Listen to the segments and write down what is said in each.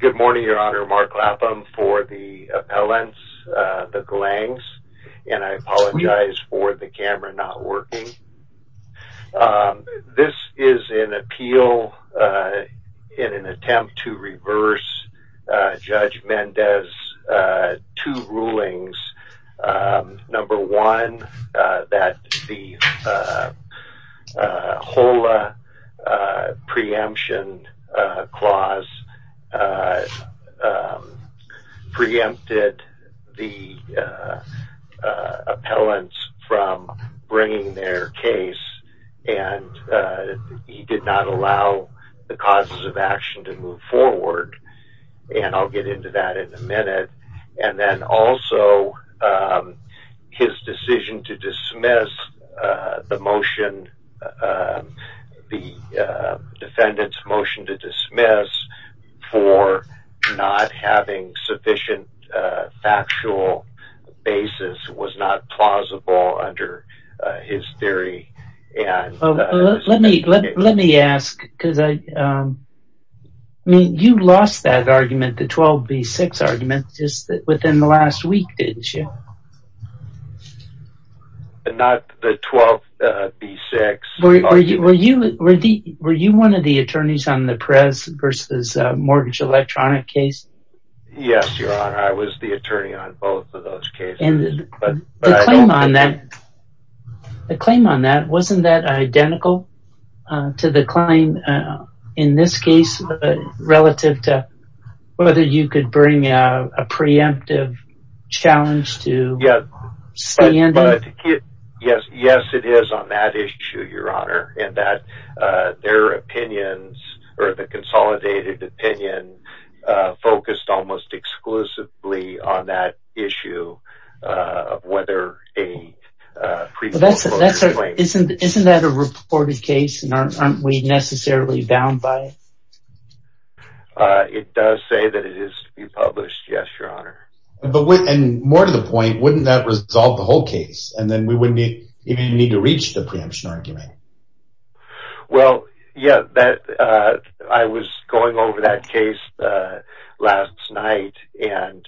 Good morning, Your Honor. Mark Lapham for the appellants, the Galangs, and I apologize for the camera not working. This is an appeal in an attempt to reverse Judge Mendez's two laws, preempted the appellants from bringing their case, and he did not allow the causes of action to move forward, and I'll get into that in a minute. And then also, his decision to dismiss the motion, the defendant's motion to dismiss for not having sufficient factual basis was not plausible under his theory. Let me ask, because you lost that argument, the 12B6 argument, just within the last week, didn't you? Not the 12B6. Were you one of the attorneys on the Perez v. Mortgage Electronic case? Yes, Your Honor, I was the attorney on both of those cases. The claim on that, wasn't that identical to the claim in this case, relative to whether you could bring a preemptive challenge to stand it? Yes, it is on that issue, Your Honor, in that their opinions, or the consolidated opinion, focused almost exclusively on that issue of whether a pre-court motion... Isn't that a reported case, and aren't we necessarily bound by it? It does say that it is to be published, yes, Your Honor. And more to the point, wouldn't that resolve the whole case, and then we wouldn't even need to reach the preemption argument? Well, yeah, I was going over that case last night, and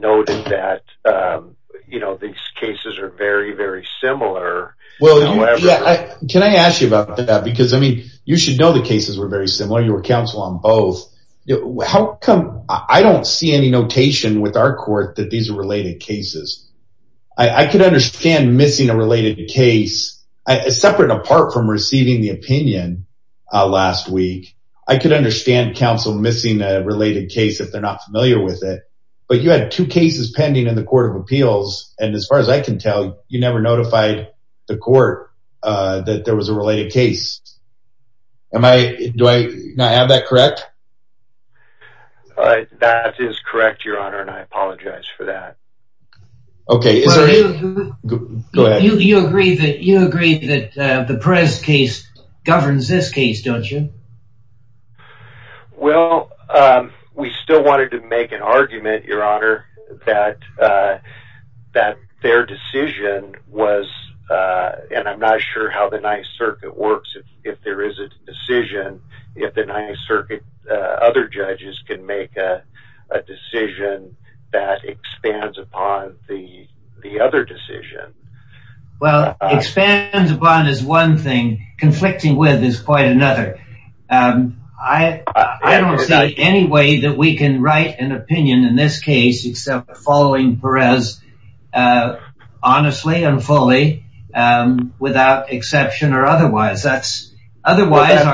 noted that these cases are very, very similar. Can I ask you about that? Because, I mean, you should know the cases were very similar. You were counsel on both. I don't see any notation with our court that these are related cases. I could understand missing a related case, separate and apart from receiving the opinion last week. I could understand counsel missing a related case if they're not familiar with it. But you had two cases pending in the Court of Appeals, and as far as I can tell, you never notified the court that there was a related case. Do I have that correct? That is correct, Your Honor, and I apologize for that. Okay, we still wanted to make an argument, Your Honor, that their decision was, and I'm not sure how the Ninth Circuit works, if there is a decision, if the Ninth Circuit, other judges can make a decision that expands upon the other decision. Well, expands upon is one thing, conflicting with is quite another. I don't see any way that we can write an opinion in this case, except following Perez, honestly and fully, without exception or otherwise. Otherwise,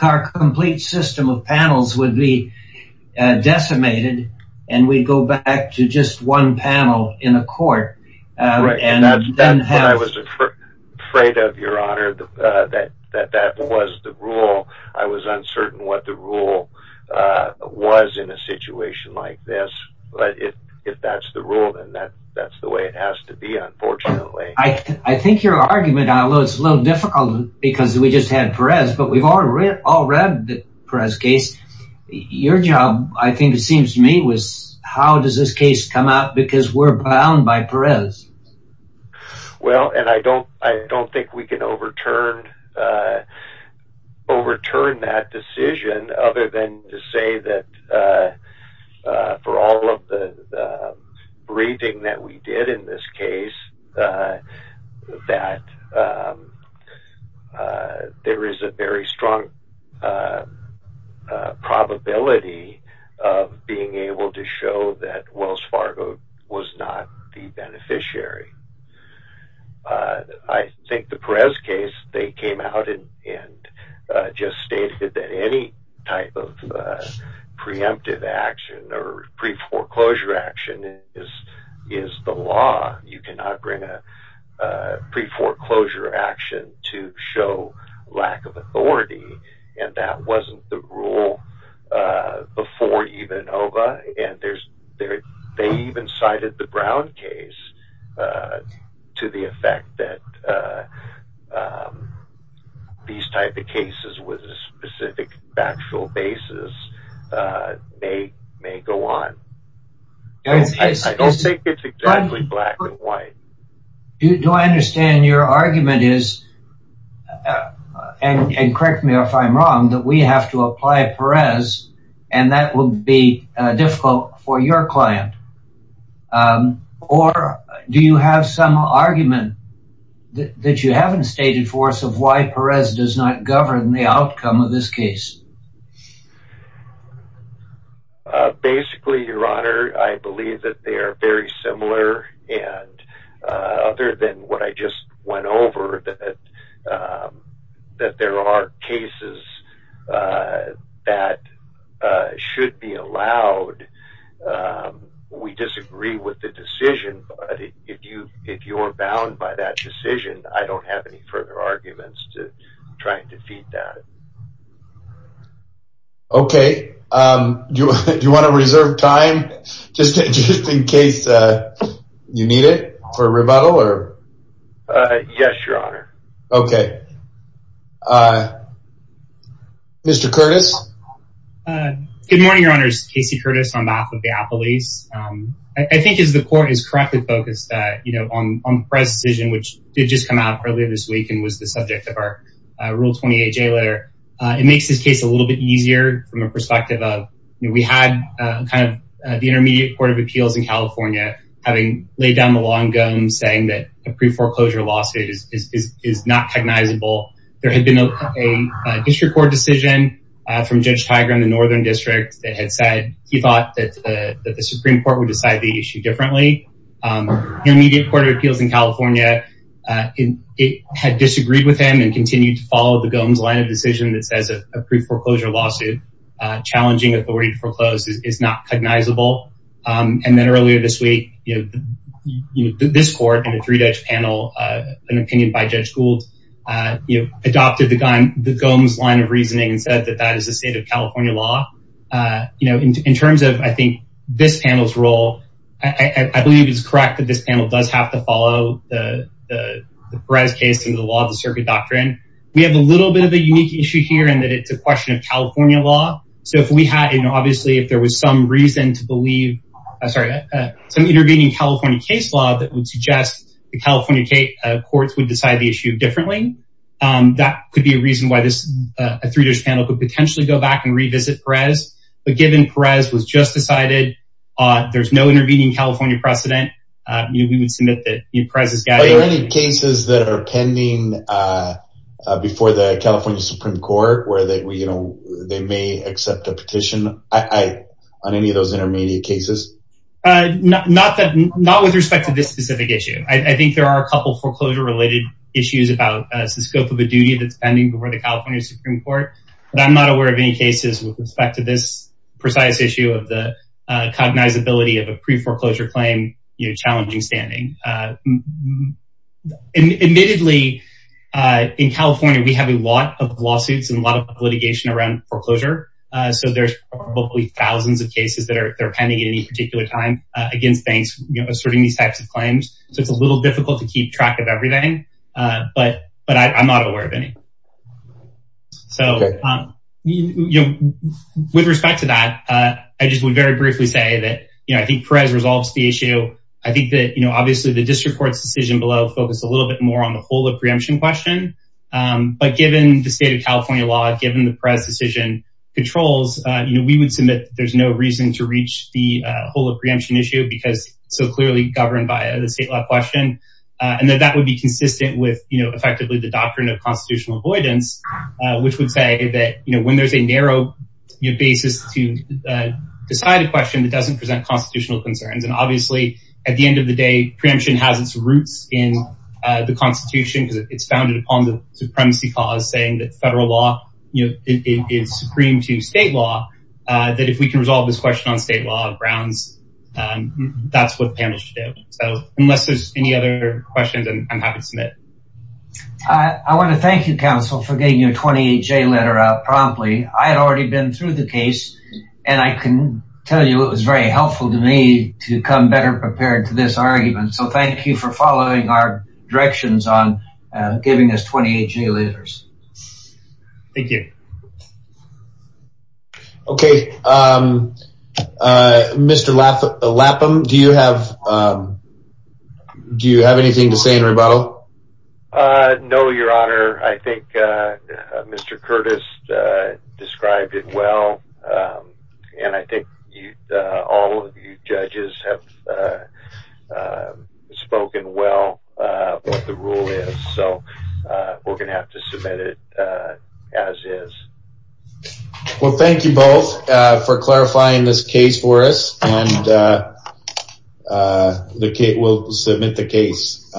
our complete system of panels would be decimated, and we'd go back to just one panel in a court. That's what I was afraid of, Your Honor, that that was the rule. I was uncertain what the rule was in a situation like this, but if that's the rule, then that's the way it has to be, unfortunately. I think your argument, although it's a little difficult, because we just had Perez, but we've all read Perez's case. Your job, I think it seems to me, was how does this case come out, because we're bound by Perez. Well, I don't think we can overturn that decision, other than to say that for all of the briefing that we did in this case, that there is a very strong probability of being able to show that I think the Perez case, they came out and just stated that any type of preemptive action or pre-foreclosure action is the law. You cannot bring a pre-foreclosure action to show lack of authority, and that wasn't the rule before even OVA, and they even cited the Brown case to the point that these type of cases with a specific factual basis may go on. I don't think it's exactly black and white. Do I understand your argument is, and correct me if I'm wrong, that we have to apply Perez, and that will be difficult for your client, or do you have some argument that you haven't stated for us of why Perez does not govern the outcome of this case? Basically, your honor, I believe that they are very similar, and other than what I just went over, that there are cases that should be allowed. We disagree with the decision, but if you're bound by that decision, I don't have any further arguments to try and defeat that. Okay. Do you want to reserve time just in case you need it for a rebuttal? Yes, your honor. Okay. Mr. Curtis. Good morning, your honors. Casey Curtis on behalf of the Appalachians. I think as the court is correctly focused on the Perez decision, which did just come out earlier this week and was the subject of our Rule 28 J letter, it makes this case a little bit easier from a perspective of, you know, we had kind of the Intermediate Court of Appeals in California having laid down the long gum saying that a pre-foreclosure lawsuit is not recognizable. There had been a district court decision from Judge Tiger in the Northern District that had said he thought that the Supreme Court would decide the issue differently. Intermediate Court of Appeals in California had disagreed with him and continued to follow the Gomes line of decision that says a pre-foreclosure lawsuit challenging authority to foreclose is not cognizable. And then earlier this week, you know, this court and a three-judge panel, an opinion by Judge Gould, you know, adopted the Gomes line of reasoning and said that that is the state of California law. You know, in terms of, I think this panel's role, I believe it's correct that this panel does have to follow the Perez case and the law of the circuit doctrine. We have a little bit of a unique issue here and that it's a question of California law. So if we had, you know, obviously if there was some reason to believe, I'm sorry, some intervening California case law that would suggest the California courts would decide the issue differently. That could be a reason why this, a three-judge panel could potentially go back and revisit Perez. But given Perez was just decided, there's no intervening California precedent, you know, we would submit that Perez is guilty. Are there any cases that are pending before the California Supreme Court where they, you know, they may accept a petition on any of those intermediate cases? Not that, not with respect to this specific issue. I think there are a couple foreclosure related issues about the scope of a duty that's pending before the California Supreme Court, but I'm not aware of any cases with respect to this precise issue of the cognizability of a pre-foreclosure claim, you know, challenging standing. Admittedly, in California, we have a lot of lawsuits and a lot of litigation around foreclosure. So there's probably thousands of cases that are pending at any particular time against banks, you know, asserting these types of claims. So it's a little difficult to keep track of everything, but I'm not aware of any. So with respect to that, I just would very briefly say that, you know, I think Perez resolves the issue. I think that, you know, obviously the district court's decision below focused a little bit more on the whole of preemption question, but given the state of California law, given the Perez decision controls, you know, we would submit that there's no reason to reach the whole of preemption issue because so clearly governed by the state law question, and that that would be consistent with, you know, effectively the doctrine of constitutional avoidance, which would say that, you know, when there's a narrow basis to decide a question that doesn't present constitutional concerns, and obviously at the end of the day, preemption has its roots in the constitution because it's founded upon the supremacy cause saying that on state law grounds, that's what panels should do. So unless there's any other questions, I'm happy to submit. I want to thank you, counsel, for getting your 28-J letter out promptly. I had already been through the case, and I can tell you it was very helpful to me to come better prepared to this argument. So thank you for following our directions on giving us 28-J letters. Thank you. Okay. Mr. Lapham, do you have anything to say in rebuttal? No, your honor. I think Mr. Curtis described it well, and I think all of you judges have spoken well what the rule is. So we're gonna have to submit it as is. Well, thank you both for clarifying this case for us, and we'll submit the case.